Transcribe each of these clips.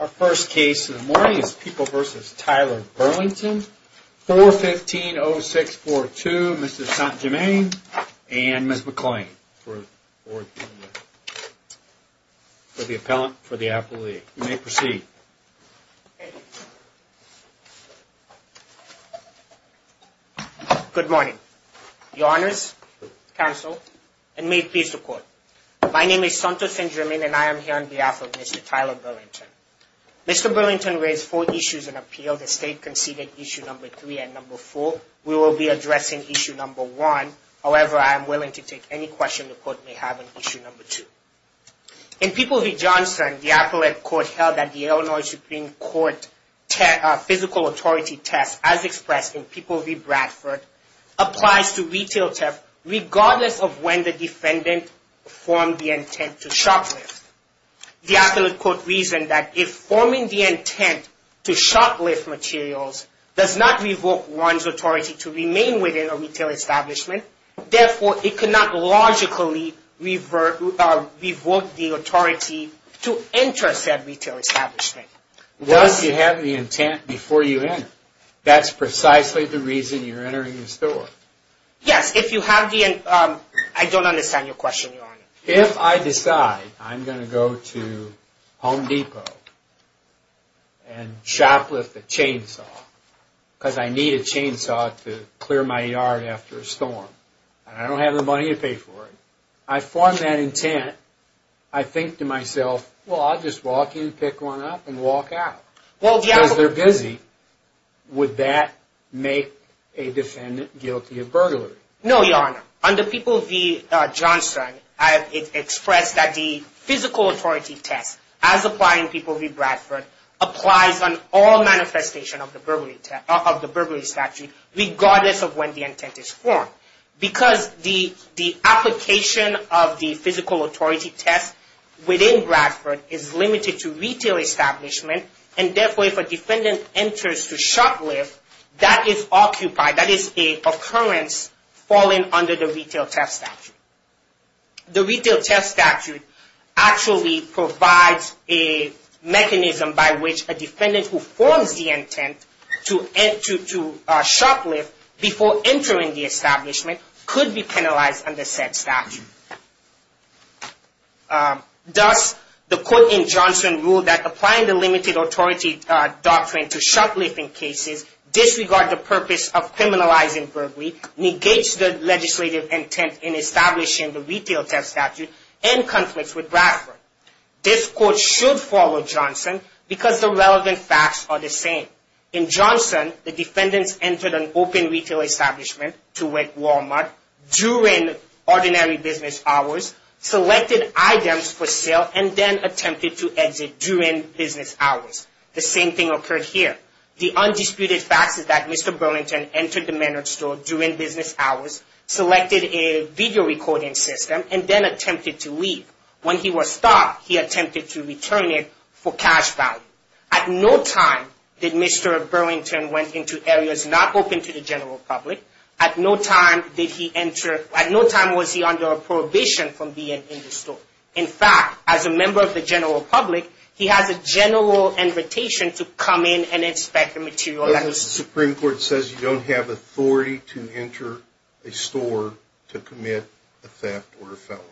Our first case in the morning is People v. Tyler Burlington. 415-0642, Mr. Sant Jermaine and Ms. McClain for the appellant, for the appellee. You may proceed. Mr. Sant Jermaine Good morning. Your honors, counsel, and may it please the court. My name is Sant Jermaine and I am here on behalf of Mr. Tyler Burlington. Mr. Burlington raised four issues in appeal. The state conceded issue number three and number four. We will be addressing issue number one. However, I am willing to take any question the court may have on issue number two. In People v. Johnson, the appellate court held that the Illinois Supreme Court physical authority test, as expressed in People v. Bradford, applies to retail theft regardless of when the defendant formed the intent to shoplift. The appellate court reasoned that if forming the intent to shoplift materials does not revoke one's authority to remain within a retail establishment, therefore it cannot logically revoke the authority to enter said retail establishment. What if you have the intent before you enter? That's precisely the reason you're entering the store. Yes, if you have the intent. I don't understand your question, your honor. If I decide I'm going to go to Home Depot and shoplift a chainsaw, because I need a chainsaw to clear my yard after a storm, and I don't have the money to pay for it, I form that intent, I think to myself, well, I'll just walk in, pick one up, and walk out. Because they're busy, would that make a defendant guilty of burglary? No, your honor. Under People v. Johnson, it's expressed that the physical authority test, as applied in People v. Bradford, applies on all manifestation of the burglary statute regardless of when the intent is formed. Because the application of the physical authority test within Bradford is limited to retail establishment, and therefore if a defendant enters to shoplift, that is occupied, that is an occurrence falling under the retail theft statute. The retail theft statute actually provides a mechanism by which a defendant who forms the intent to shoplift before entering the establishment could be penalized under said statute. Thus, the court in Johnson ruled that applying the limited authority doctrine to shoplifting cases disregards the purpose of criminalizing burglary, negates the legislative intent in establishing the retail theft statute, and conflicts with Bradford. This court should follow Johnson because the relevant facts are the same. In Johnson, the defendants entered an open retail establishment to work Walmart during ordinary business hours, selected items for sale, and then attempted to exit during business hours. The same thing occurred here. The undisputed fact is that Mr. Burlington entered the Menard store during business hours, selected a video recording system, and then attempted to leave. When he was stopped, he attempted to return it for cash value. At no time did Mr. Burlington went into areas not open to the general public. At no time did he enter, at no time was he under a prohibition from being in the store. In fact, as a member of the general public, he has a general invitation to come in and inspect the material. The Supreme Court says you don't have authority to enter a store to commit a theft or a felony.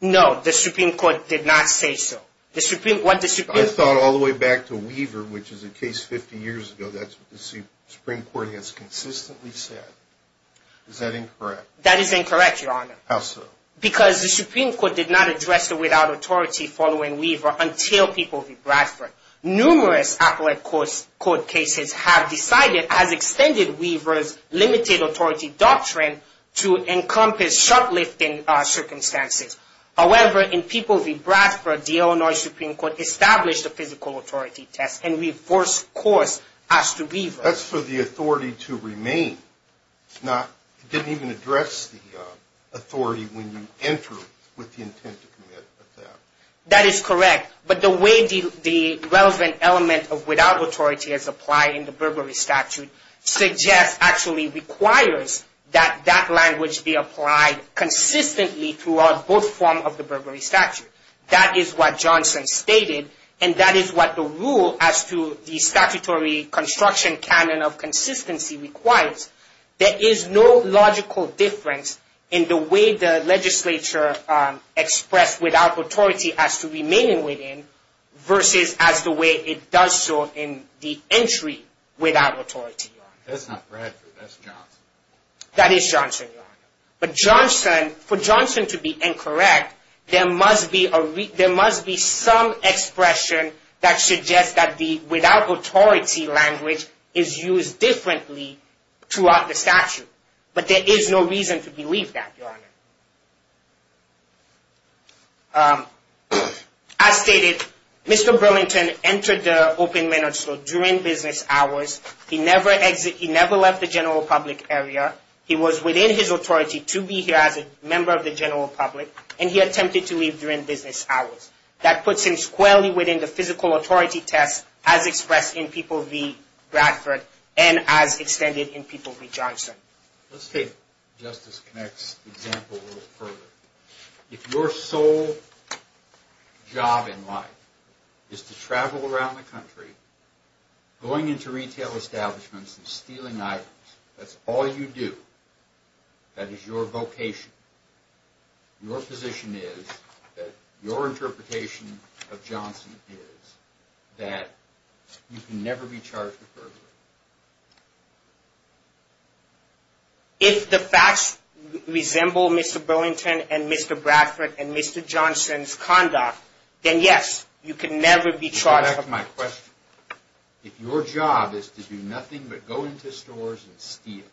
No, the Supreme Court did not say so. I thought all the way back to Weaver, which is a case 50 years ago that the Supreme Court has consistently said. Is that incorrect? That is incorrect, Your Honor. How so? Because the Supreme Court did not address the without authority following Weaver until People v. Bradford. Numerous appellate court cases have decided, as extended Weaver's limited authority doctrine, to encompass short-lifting circumstances. However, in People v. Bradford, the Illinois Supreme Court established a physical authority test and we forced course as to Weaver. That's for the authority to remain. It didn't even address the authority when you enter with the intent to commit a theft. That is correct. But the way the relevant element of without authority is applied in the Burberry statute suggests, actually requires, that that language be applied consistently throughout both forms of the Burberry statute. That is what Johnson stated and that is what the rule as to the statutory construction canon of consistency requires. There is no logical difference in the way the legislature expressed without authority as to remaining within versus as the way it does so in the entry without authority. That's not Bradford, that's Johnson. That is Johnson. But Johnson, for Johnson to be incorrect, there must be some expression that suggests that the without authority language is used differently throughout the statute. But there is no reason to believe that, Your Honor. As stated, Mr. Burlington entered the open minutes or during business hours. He never left the general public area. He was within his authority to be here as a member of the general public and he attempted to leave during business hours. That puts him squarely within the physical authority test as expressed in People v. Bradford and as extended in People v. Johnson. Let's take Justice Connacht's example a little further. If your sole job in life is to travel around the country, going into retail establishments and stealing items, that's all you do. That is your vocation. Your position is that your interpretation of Johnson is that you can never be charged with burglary. If the facts resemble Mr. Burlington and Mr. Bradford and Mr. Johnson's conduct, then yes, you can never be charged with burglary. If your job is to do nothing but go into stores and steal,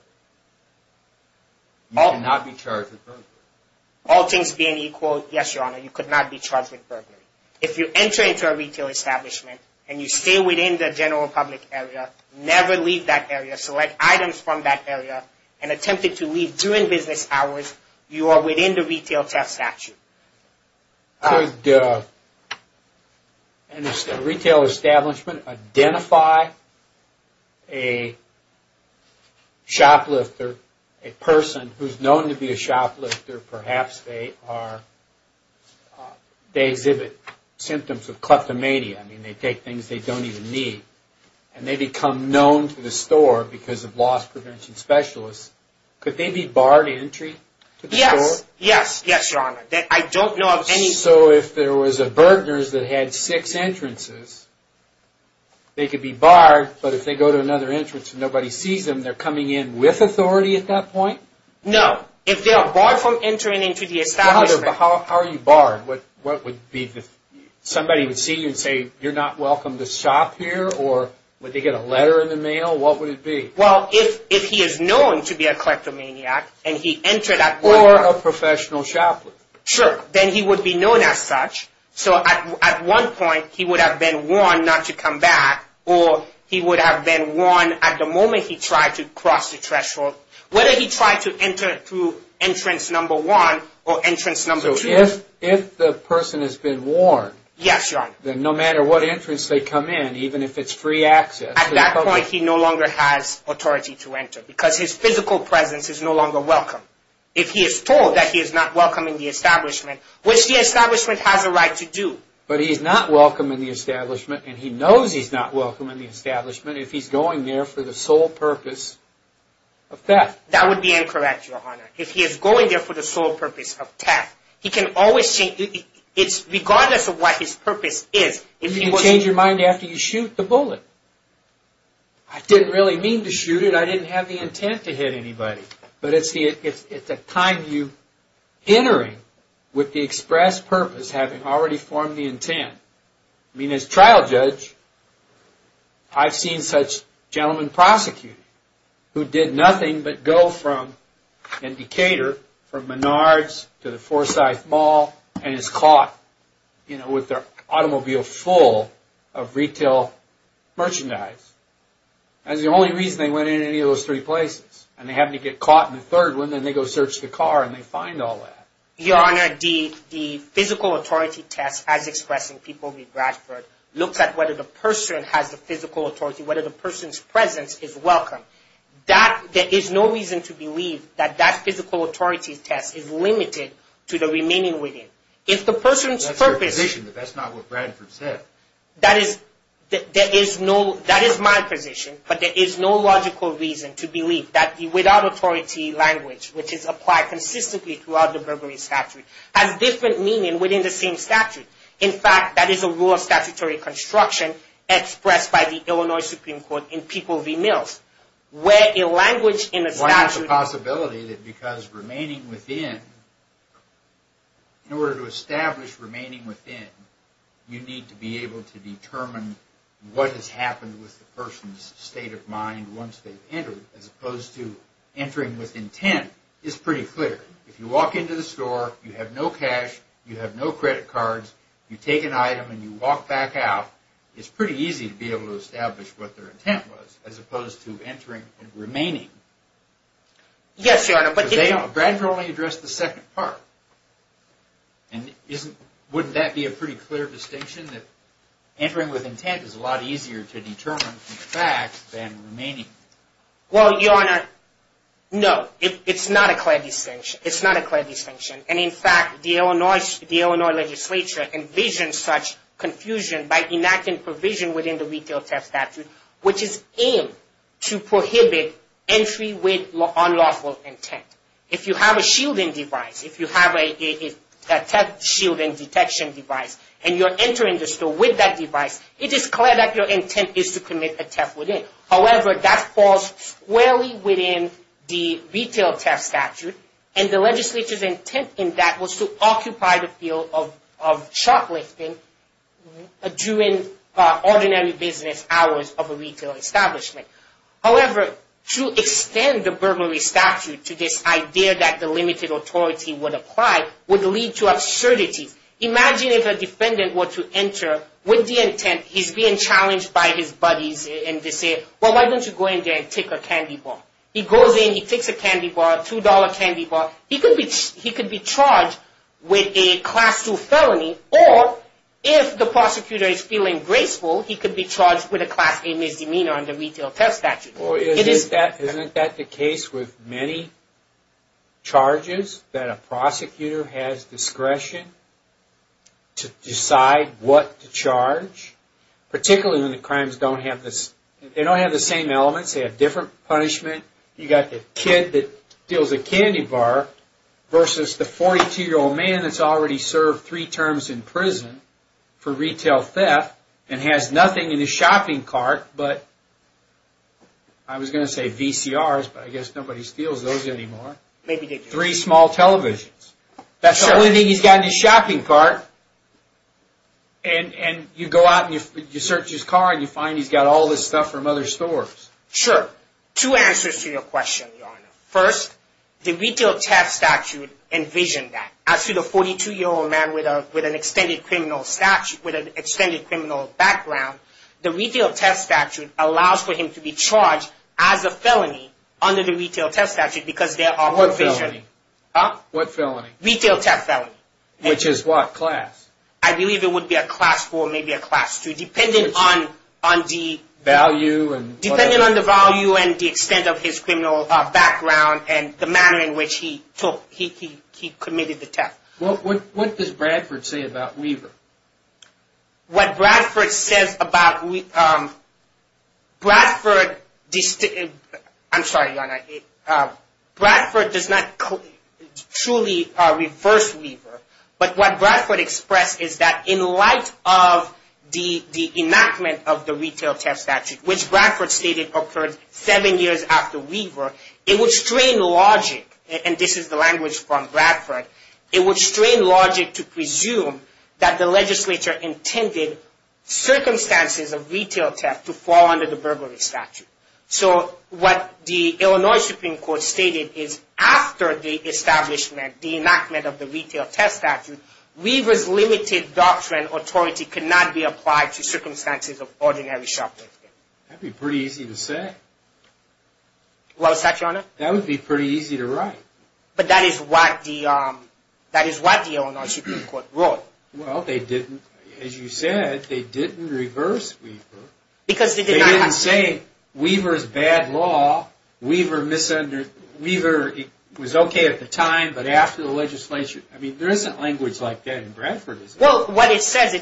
you cannot be charged with burglary. All things being equal, yes, Your Honor, you could not be charged with burglary. If you enter into a retail establishment and you stay within the general public area, never leave that area, select items from that area, and attempted to leave during business hours, you are within the retail test statute. Could a retail establishment identify a shoplifter, a person who is known to be a shoplifter? Perhaps they exhibit symptoms of kleptomania. They take things they don't even need and they become known to the store because of loss prevention specialists. Could they be barred entry to the store? Yes, Your Honor. I don't know of any... So if there was a Burtner's that had six entrances, they could be barred, but if they go to another entrance and nobody sees them, they're coming in with authority at that point? No. If they are barred from entering into the establishment... How are you barred? What would be the... somebody would see you and say, you're not welcome to shop here, or would they get a letter in the mail? What would it be? Well, if he is known to be a kleptomaniac and he entered at one point... Or a professional shoplifter. Sure. Then he would be known as such, so at one point he would have been warned not to come back, or he would have been warned at the moment he tried to cross the threshold, whether he tried to enter through entrance number one or entrance number two. So if the person has been warned... Yes, Your Honor. Then no matter what entrance they come in, even if it's free access... At that point he no longer has authority to enter, because his physical presence is no longer welcome. If he is told that he is not welcome in the establishment, which the establishment has a right to do... But he is not welcome in the establishment, and he knows he's not welcome in the establishment, if he's going there for the sole purpose of theft. That would be incorrect, Your Honor. If he is going there for the sole purpose of theft, he can always change... it's regardless of what his purpose is... You can change your mind after you shoot the bullet. I didn't really mean to shoot it. I didn't have the intent to hit anybody. But it's a time you're entering with the express purpose, having already formed the intent. I mean, as trial judge, I've seen such gentlemen prosecuted, who did nothing but go from, in Decatur, from Menards to the Forsyth Mall, and is caught with their automobile full of retail merchandise. That's the only reason they went into any of those three places. And they happen to get caught in the third one, then they go search the car, and they find all that. Your Honor, the physical authority test, as expressed in People v. Bradford, looks at whether the person has the physical authority, whether the person's presence is welcome. There is no reason to believe that that physical authority test is limited to the remaining within. That's your position, but that's not what Bradford said. That is my position, but there is no logical reason to believe that the without authority language, which is applied consistently throughout the Burberry statute, has different meaning within the same statute. In fact, that is a rule of statutory construction expressed by the Illinois Supreme Court in People v. Mills. Why is the possibility that because remaining within, in order to establish remaining within, you need to be able to determine what has happened with the person's state of mind once they've entered, as opposed to entering with intent, is pretty clear. If you walk into the store, you have no cash, you have no credit cards, you take an item and you walk back out, it's pretty easy to be able to establish what their intent was, as opposed to entering and remaining. Yes, Your Honor. Because they don't. Bradford only addressed the second part. And wouldn't that be a pretty clear distinction, that entering with intent is a lot easier to determine from facts than remaining? Well, Your Honor, no. It's not a clear distinction. It's not a clear distinction. And in fact, the Illinois legislature envisions such confusion by enacting provision within the Retail Test Statute, which is aimed to prohibit entry with unlawful intent. If you have a shielding device, if you have a theft shielding detection device, and you're entering the store with that device, it is clear that your intent is to commit a theft within. However, that falls squarely within the Retail Test Statute, and the legislature's intent in that was to occupy the field of shoplifting during ordinary business hours of a retail establishment. However, to extend the burglary statute to this idea that the limited authority would apply would lead to absurdities. Imagine if a defendant were to enter with the intent, he's being challenged by his buddies and they say, well, why don't you go in there and take a candy bar? He goes in, he takes a candy bar, a $2 candy bar. He could be charged with a Class 2 felony, or if the prosecutor is feeling graceful, he could be charged with a Class A misdemeanor under the Retail Test Statute. Isn't that the case with many charges, that a prosecutor has discretion to decide what to charge? Particularly when the crimes don't have the same elements, they have different punishments. You've got the kid that steals a candy bar versus the 42-year-old man that's already served three terms in prison for retail theft, and has nothing in his shopping cart but, I was going to say VCRs, but I guess nobody steals those anymore. Three small televisions. That's the only thing he's got in his shopping cart. And you go out and you search his car and you find he's got all this stuff from other stores. Sure. Two answers to your question, Your Honor. First, the Retail Test Statute envisioned that. As to the 42-year-old man with an extended criminal background, the Retail Test Statute allows for him to be charged as a felony under the Retail Test Statute because there are provisions. What felony? Huh? What felony? Retail Theft Felony. Which is what class? I believe it would be a class four, maybe a class two, depending on the value and the extent of his criminal background and the manner in which he took, he committed the theft. What does Bradford say about Weaver? What Bradford says about, Bradford, I'm sorry, Your Honor. Bradford does not truly reverse Weaver, but what Bradford expressed is that in light of the enactment of the Retail Test Statute, which Bradford stated occurred seven years after Weaver, it would strain logic, and this is the language from Bradford, it would strain logic to presume that the legislature intended circumstances of retail theft to fall under the burglary statute. So what the Illinois Supreme Court stated is after the establishment, the enactment of the Retail Test Statute, Weaver's limited doctrine, authority could not be applied to circumstances of ordinary shoplifting. That would be pretty easy to say. Well, is that right, Your Honor? That would be pretty easy to write. But that is what the Illinois Supreme Court wrote. Well, they didn't, as you said, they didn't reverse Weaver. Because they did not have to. They didn't say Weaver's bad law, Weaver was okay at the time, but after the legislature, I mean, there isn't language like that in Bradford. Well, what it says,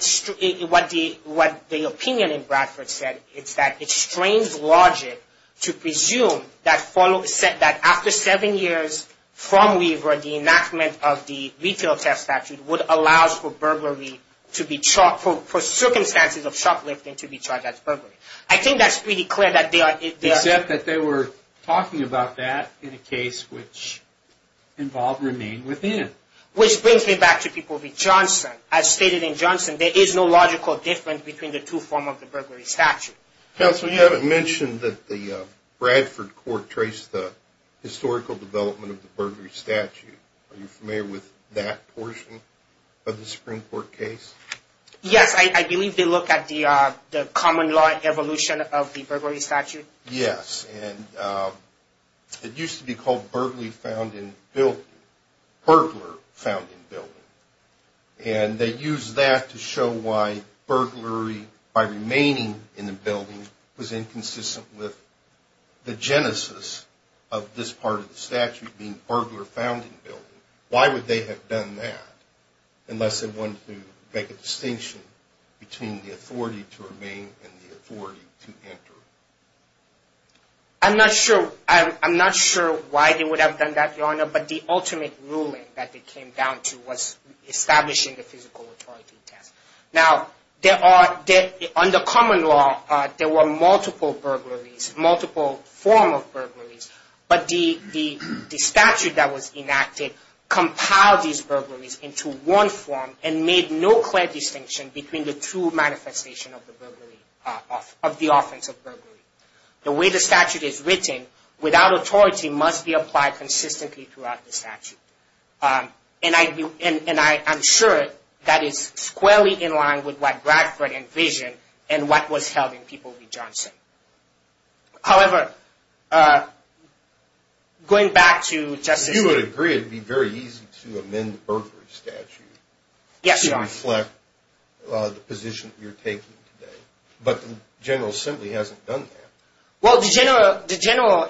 what the opinion in Bradford said is that it strains logic to presume that after seven years from Weaver, the enactment of the Retail Test Statute would allow for circumstances of shoplifting to be charged as burglary. I think that's pretty clear. Except that they were talking about that in a case which involved Remain Within. Which brings me back to People v. Johnson. As stated in Johnson, there is no logical difference between the two forms of the burglary statute. Counsel, you haven't mentioned that the Bradford court traced the historical development of the burglary statute. Are you familiar with that portion of the Supreme Court case? Yes, I believe they look at the common law evolution of the burglary statute. Yes, and it used to be called burglary found in building, burglar found in building. And they used that to show why burglary by remaining in the building was inconsistent with the genesis of this part of the statute being burglar found in building. Why would they have done that unless they wanted to make a distinction between the authority to remain and the authority to enter? I'm not sure why they would have done that, Your Honor, but the ultimate ruling that they came down to was establishing the physical authority test. Now, under common law, there were multiple burglaries, multiple forms of burglaries. But the statute that was enacted compiled these burglaries into one form and made no clear distinction between the two manifestations of the offense of burglary. The way the statute is written, without authority, must be applied consistently throughout the statute. And I'm sure that is squarely in line with what Bradford envisioned and what was held in People v. Johnson. However, going back to Justice— You would agree it would be very easy to amend the burglary statute to reflect the position that you're taking today. But the General Assembly hasn't done that. Well, the General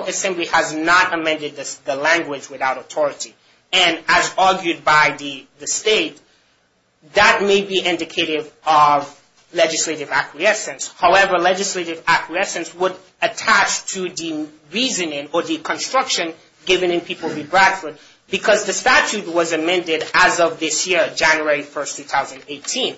Assembly has not amended the language without authority. And as argued by the state, that may be indicative of legislative acquiescence. However, legislative acquiescence would attach to the reasoning or the construction given in People v. Bradford because the statute was amended as of this year, January 1, 2018.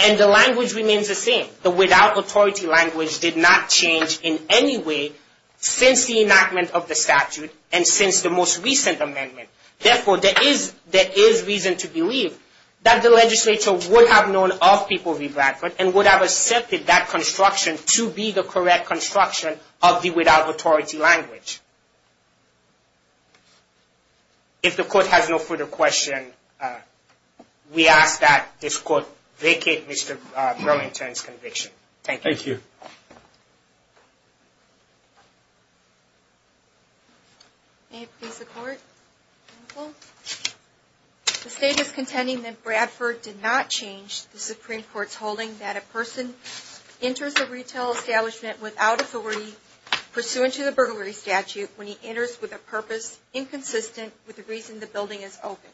And the language remains the same. The without authority language did not change in any way since the enactment of the statute and since the most recent amendment. Therefore, there is reason to believe that the legislature would have known of People v. Bradford and would have accepted that construction to be the correct construction of the without authority language. If the Court has no further questions, we ask that this Court vacate Mr. Burlington's conviction. Thank you. Thank you. May it please the Court. The State is contending that Bradford did not change the Supreme Court's holding that a person enters a retail establishment without authority pursuant to the burglary statute when he enters with a purpose inconsistent with the reason the building is open.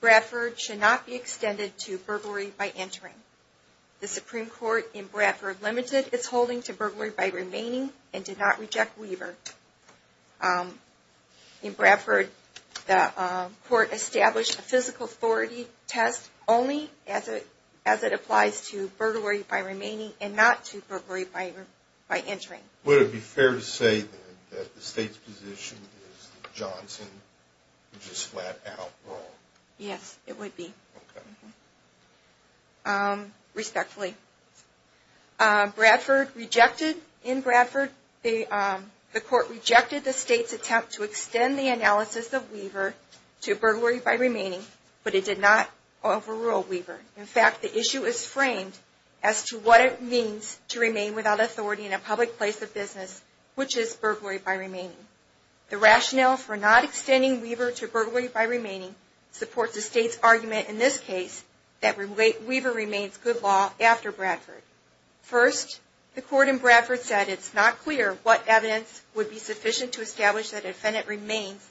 Bradford should not be extended to burglary by entering. The Supreme Court in Bradford limited its holding to burglary by remaining and did not reject Weaver. In Bradford, the Court established a physical authority test only as it applies to burglary by remaining and not to burglary by entering. Would it be fair to say that the State's position is that Johnson was just flat out wrong? Yes, it would be. Okay. Respectfully. In Bradford, the Court rejected the State's attempt to extend the analysis of Weaver to burglary by remaining, but it did not overrule Weaver. In fact, the issue is framed as to what it means to remain without authority in a public place of business, which is burglary by remaining. The rationale for not extending Weaver to burglary by remaining supports the State's argument in this case that Weaver remains good law after Bradford. First, the Court in Bradford said it's not clear what evidence would be sufficient to establish that an offendant remains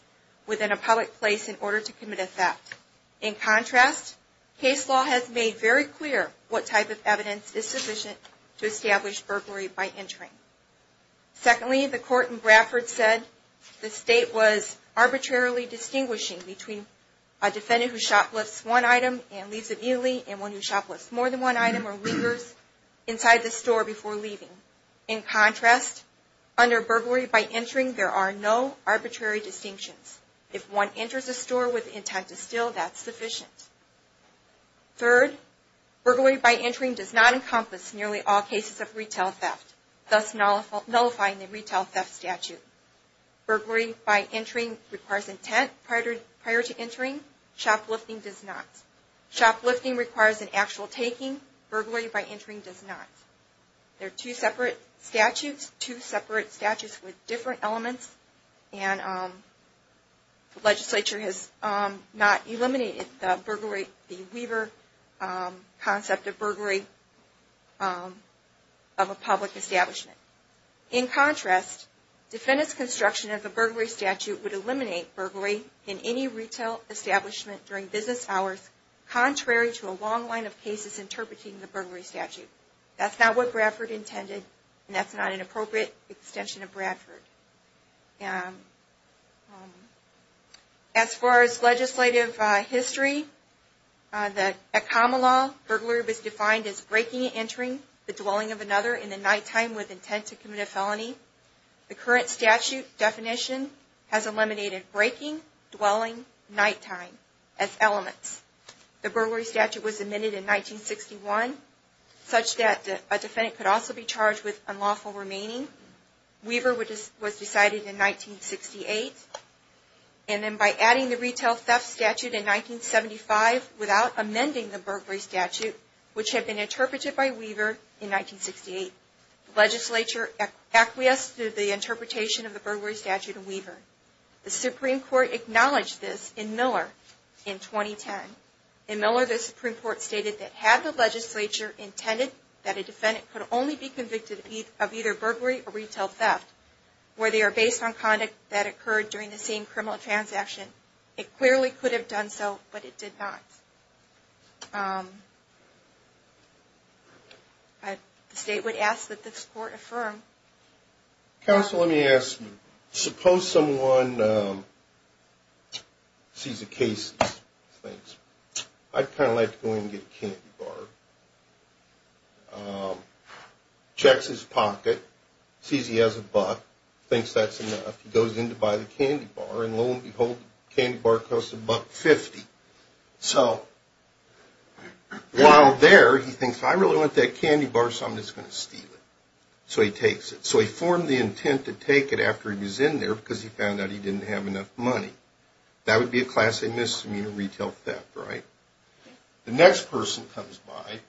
within a public place in order to commit a theft. In contrast, case law has made very clear what type of evidence is sufficient to establish burglary by entering. Secondly, the Court in Bradford said the State was arbitrarily distinguishing between a defendant who shoplifts one item and leaves it immediately, and one who shoplifts more than one item or lingers inside the store before leaving. In contrast, under burglary by entering, there are no arbitrary distinctions. If one enters a store with intent to steal, that's sufficient. Third, burglary by entering does not encompass nearly all cases of retail theft. Thus nullifying the retail theft statute. Burglary by entering requires intent prior to entering, shoplifting does not. Shoplifting requires an actual taking, burglary by entering does not. They're two separate statutes, two separate statutes with different elements, and the legislature has not eliminated the Weaver concept of burglary of a public establishment. In contrast, defendant's construction of the burglary statute would eliminate burglary in any retail establishment during business hours, contrary to a long line of cases interpreting the burglary statute. That's not what Bradford intended, and that's not an appropriate extension of Bradford. As far as legislative history, at common law, burglary is defined as breaking and entering the dwelling of another in the nighttime with intent to commit a felony. The current statute definition has eliminated breaking, dwelling, nighttime as elements. The burglary statute was amended in 1961 such that a defendant could also be charged with unlawful remaining. Weaver was decided in 1968, and then by adding the retail theft statute in 1975 without amending the burglary statute, which had been interpreted by Weaver in 1968, legislature acquiesced to the interpretation of the burglary statute in Weaver. The Supreme Court acknowledged this in Miller in 2010. In Miller, the Supreme Court stated that had the legislature intended that a defendant could only be convicted of either burglary or retail theft where they are based on conduct that occurred during the same criminal transaction, it clearly could have done so, but it did not. The state would ask that this Court affirm. Counsel, let me ask you. Suppose someone sees a case, thinks, I'd kind of like to go in and get a candy bar. Checks his pocket, sees he has a buck, thinks that's enough. He goes in to buy the candy bar, and lo and behold, the candy bar costs $1.50. So while there, he thinks, I really want that candy bar, so I'm just going to steal it. So he takes it. So he formed the intent to take it after he was in there because he found out he didn't have enough money. That would be a class A misdemeanor retail theft, right? The next person comes by,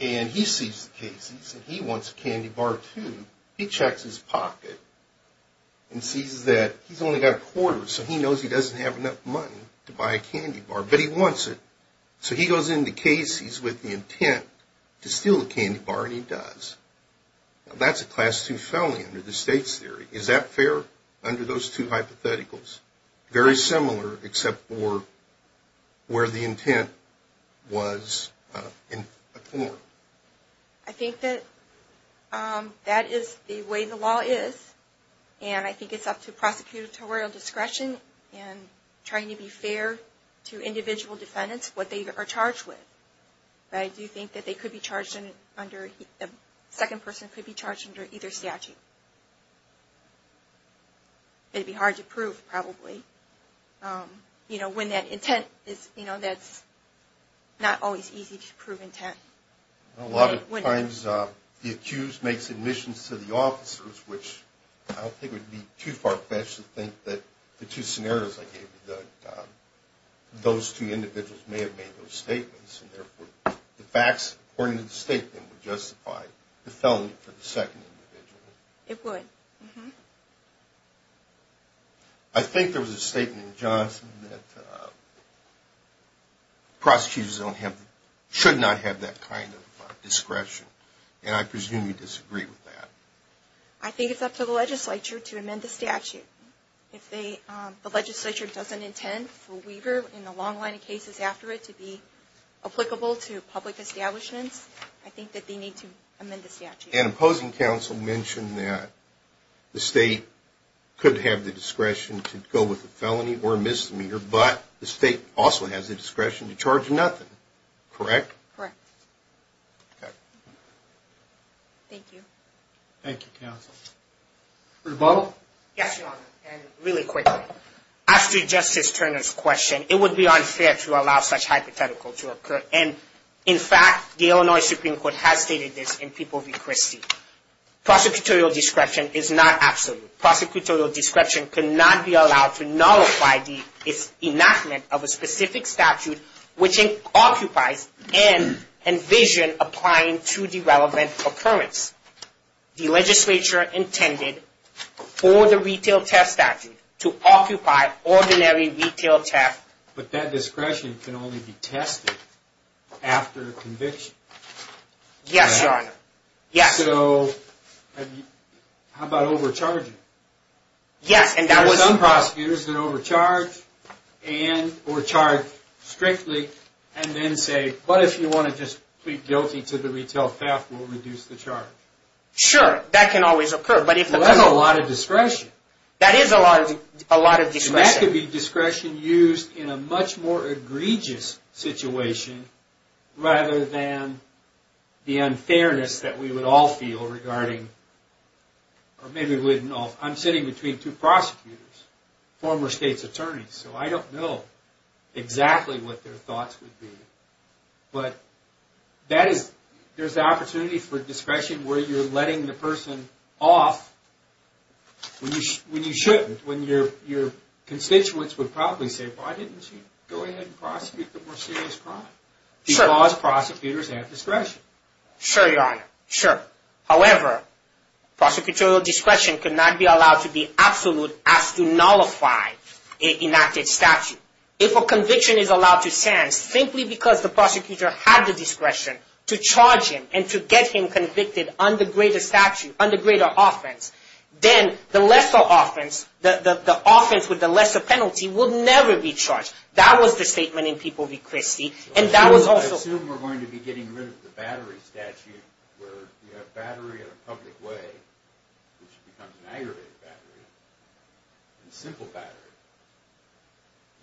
and he sees the case. He says he wants a candy bar too. He checks his pocket and sees that he's only got a quarter, so he knows he doesn't have enough money to buy a candy bar, but he wants it. So he goes in the case. He's with the intent to steal the candy bar, and he does. Now, that's a class II felony under the state's theory. Is that fair under those two hypotheticals? Very similar except for where the intent was in a court. I think that that is the way the law is, and I think it's up to prosecutorial discretion and trying to be fair to individual defendants, what they are charged with. But I do think that they could be charged under – a second person could be charged under either statute. It would be hard to prove, probably. When that intent is – that's not always easy to prove intent. A lot of times the accused makes admissions to the officers, which I don't think would be too far-fetched to think that the two scenarios I gave you, that those two individuals may have made those statements, and therefore the facts according to the statement would justify the felony for the second individual. It would. I think there was a statement in Johnson that prosecutors should not have that kind of discretion, and I presume you disagree with that. I think it's up to the legislature to amend the statute. If the legislature doesn't intend for Weaver and the long line of cases after it to be applicable to public establishments, I think that they need to amend the statute. An opposing counsel mentioned that the state could have the discretion to go with a felony or a misdemeanor, but the state also has the discretion to charge nothing, correct? Correct. Okay. Thank you. Thank you, counsel. Rebuttal? Yes, Your Honor, and really quickly. After Justice Turner's question, it would be unfair to allow such hypothetical to occur. In fact, the Illinois Supreme Court has stated this in People v. Christie. Prosecutorial discretion is not absolute. Prosecutorial discretion cannot be allowed to nullify the enactment of a specific statute which it occupies and envision applying to the relevant occurrence. The legislature intended for the retail theft statute to occupy ordinary retail theft. But that discretion can only be tested after a conviction. Yes, Your Honor. So how about overcharging? Yes. There are some prosecutors that overcharge and or charge strictly and then say, but if you want to just plead guilty to the retail theft, we'll reduce the charge. Sure. That can always occur. That's a lot of discretion. That is a lot of discretion. That could be discretion used in a much more egregious situation rather than the unfairness that we would all feel regarding, or maybe we wouldn't all. I'm sitting between two prosecutors, former state's attorneys, so I don't know exactly what their thoughts would be. But there's the opportunity for discretion where you're letting the person off when you shouldn't, when your constituents would probably say, why didn't you go ahead and prosecute the more serious crime? Because prosecutors have discretion. Sure, Your Honor. Sure. However, prosecutorial discretion could not be allowed to be absolute as to nullify an enacted statute. If a conviction is allowed to stand simply because the prosecutor had the discretion to charge him and to get him convicted under greater statute, under greater offense, then the lesser offense, the offense with the lesser penalty, will never be charged. That was the statement in People v. Christie, and that was also... I assume we're going to be getting rid of the battery statute where you have battery in a public way, which becomes an aggravated battery, and simple battery.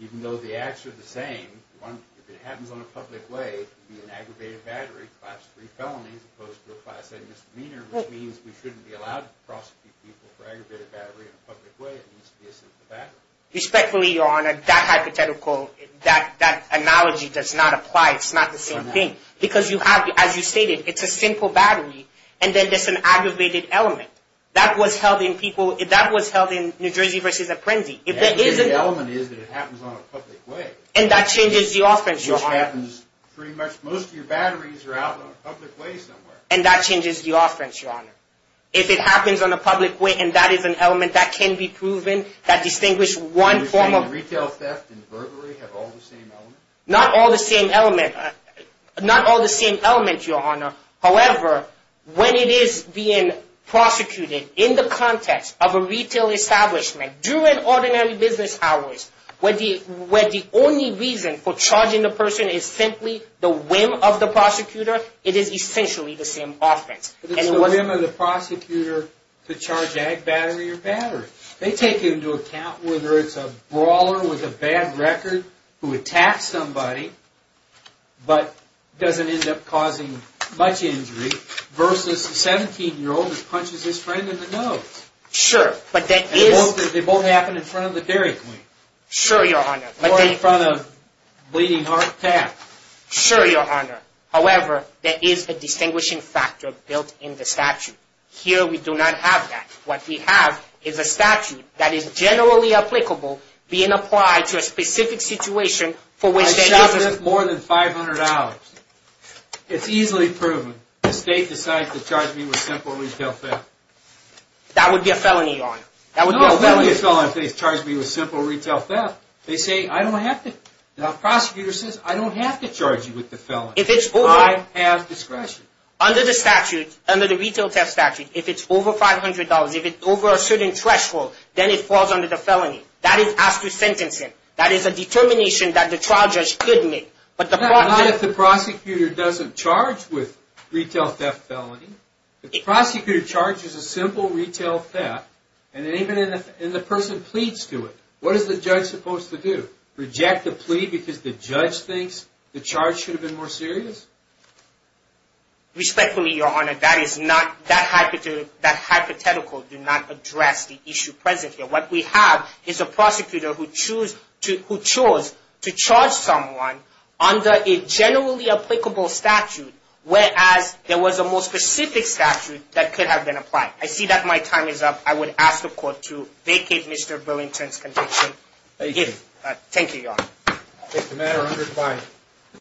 Even though the acts are the same, if it happens on a public way, it would be an aggravated battery, class 3 felony as opposed to a class A misdemeanor, which means we shouldn't be allowed to prosecute people for aggravated battery in a public way. It needs to be a simple battery. Respectfully, Your Honor, that hypothetical, that analogy does not apply. It's not the same thing. Because you have, as you stated, it's a simple battery, and then there's an aggravated element. That was held in New Jersey v. Apprendi. The aggravated element is that it happens on a public way. And that changes the offense, Your Honor. Which happens pretty much... Most of your batteries are out on a public way somewhere. And that changes the offense, Your Honor. If it happens on a public way and that is an element that can be proven, that distinguish one form of... Are you saying retail theft and burglary have all the same elements? Not all the same element. Not all the same element, Your Honor. However, when it is being prosecuted in the context of a retail establishment during ordinary business hours, when the only reason for charging the person is simply the whim of the prosecutor, it is essentially the same offense. It's the whim of the prosecutor to charge ag battery or battery. They take into account whether it's a brawler with a bad record who attacks somebody but doesn't end up causing much injury versus a 17-year-old who punches his friend in the nose. Sure, but that is... Sure, Your Honor. Or in front of a bleeding heart pat. Sure, Your Honor. However, there is a distinguishing factor built in the statute. Here we do not have that. What we have is a statute that is generally applicable being applied to a specific situation for which... I shoplift more than $500. It's easily proven. That would be a felony, Your Honor. That would be a felony. If they charge me with simple retail theft, they say I don't have to... The prosecutor says I don't have to charge you with the felony. If it's over... I have discretion. Under the statute, under the retail theft statute, if it's over $500, if it's over a certain threshold, then it falls under the felony. That is as to sentencing. That is a determination that the trial judge could make. But the... Not if the prosecutor doesn't charge with retail theft felony. If the prosecutor charges a simple retail theft, and the person pleads to it, what is the judge supposed to do? Reject the plea because the judge thinks the charge should have been more serious? Respectfully, Your Honor, that is not... That hypothetical does not address the issue present here. What we have is a prosecutor who chose to charge someone under a generally applicable statute whereas there was a more specific statute that could have been applied. I see that my time is up. I would ask the court to vacate Mr. Billington's conviction. Thank you. Thank you, Your Honor. Thank you.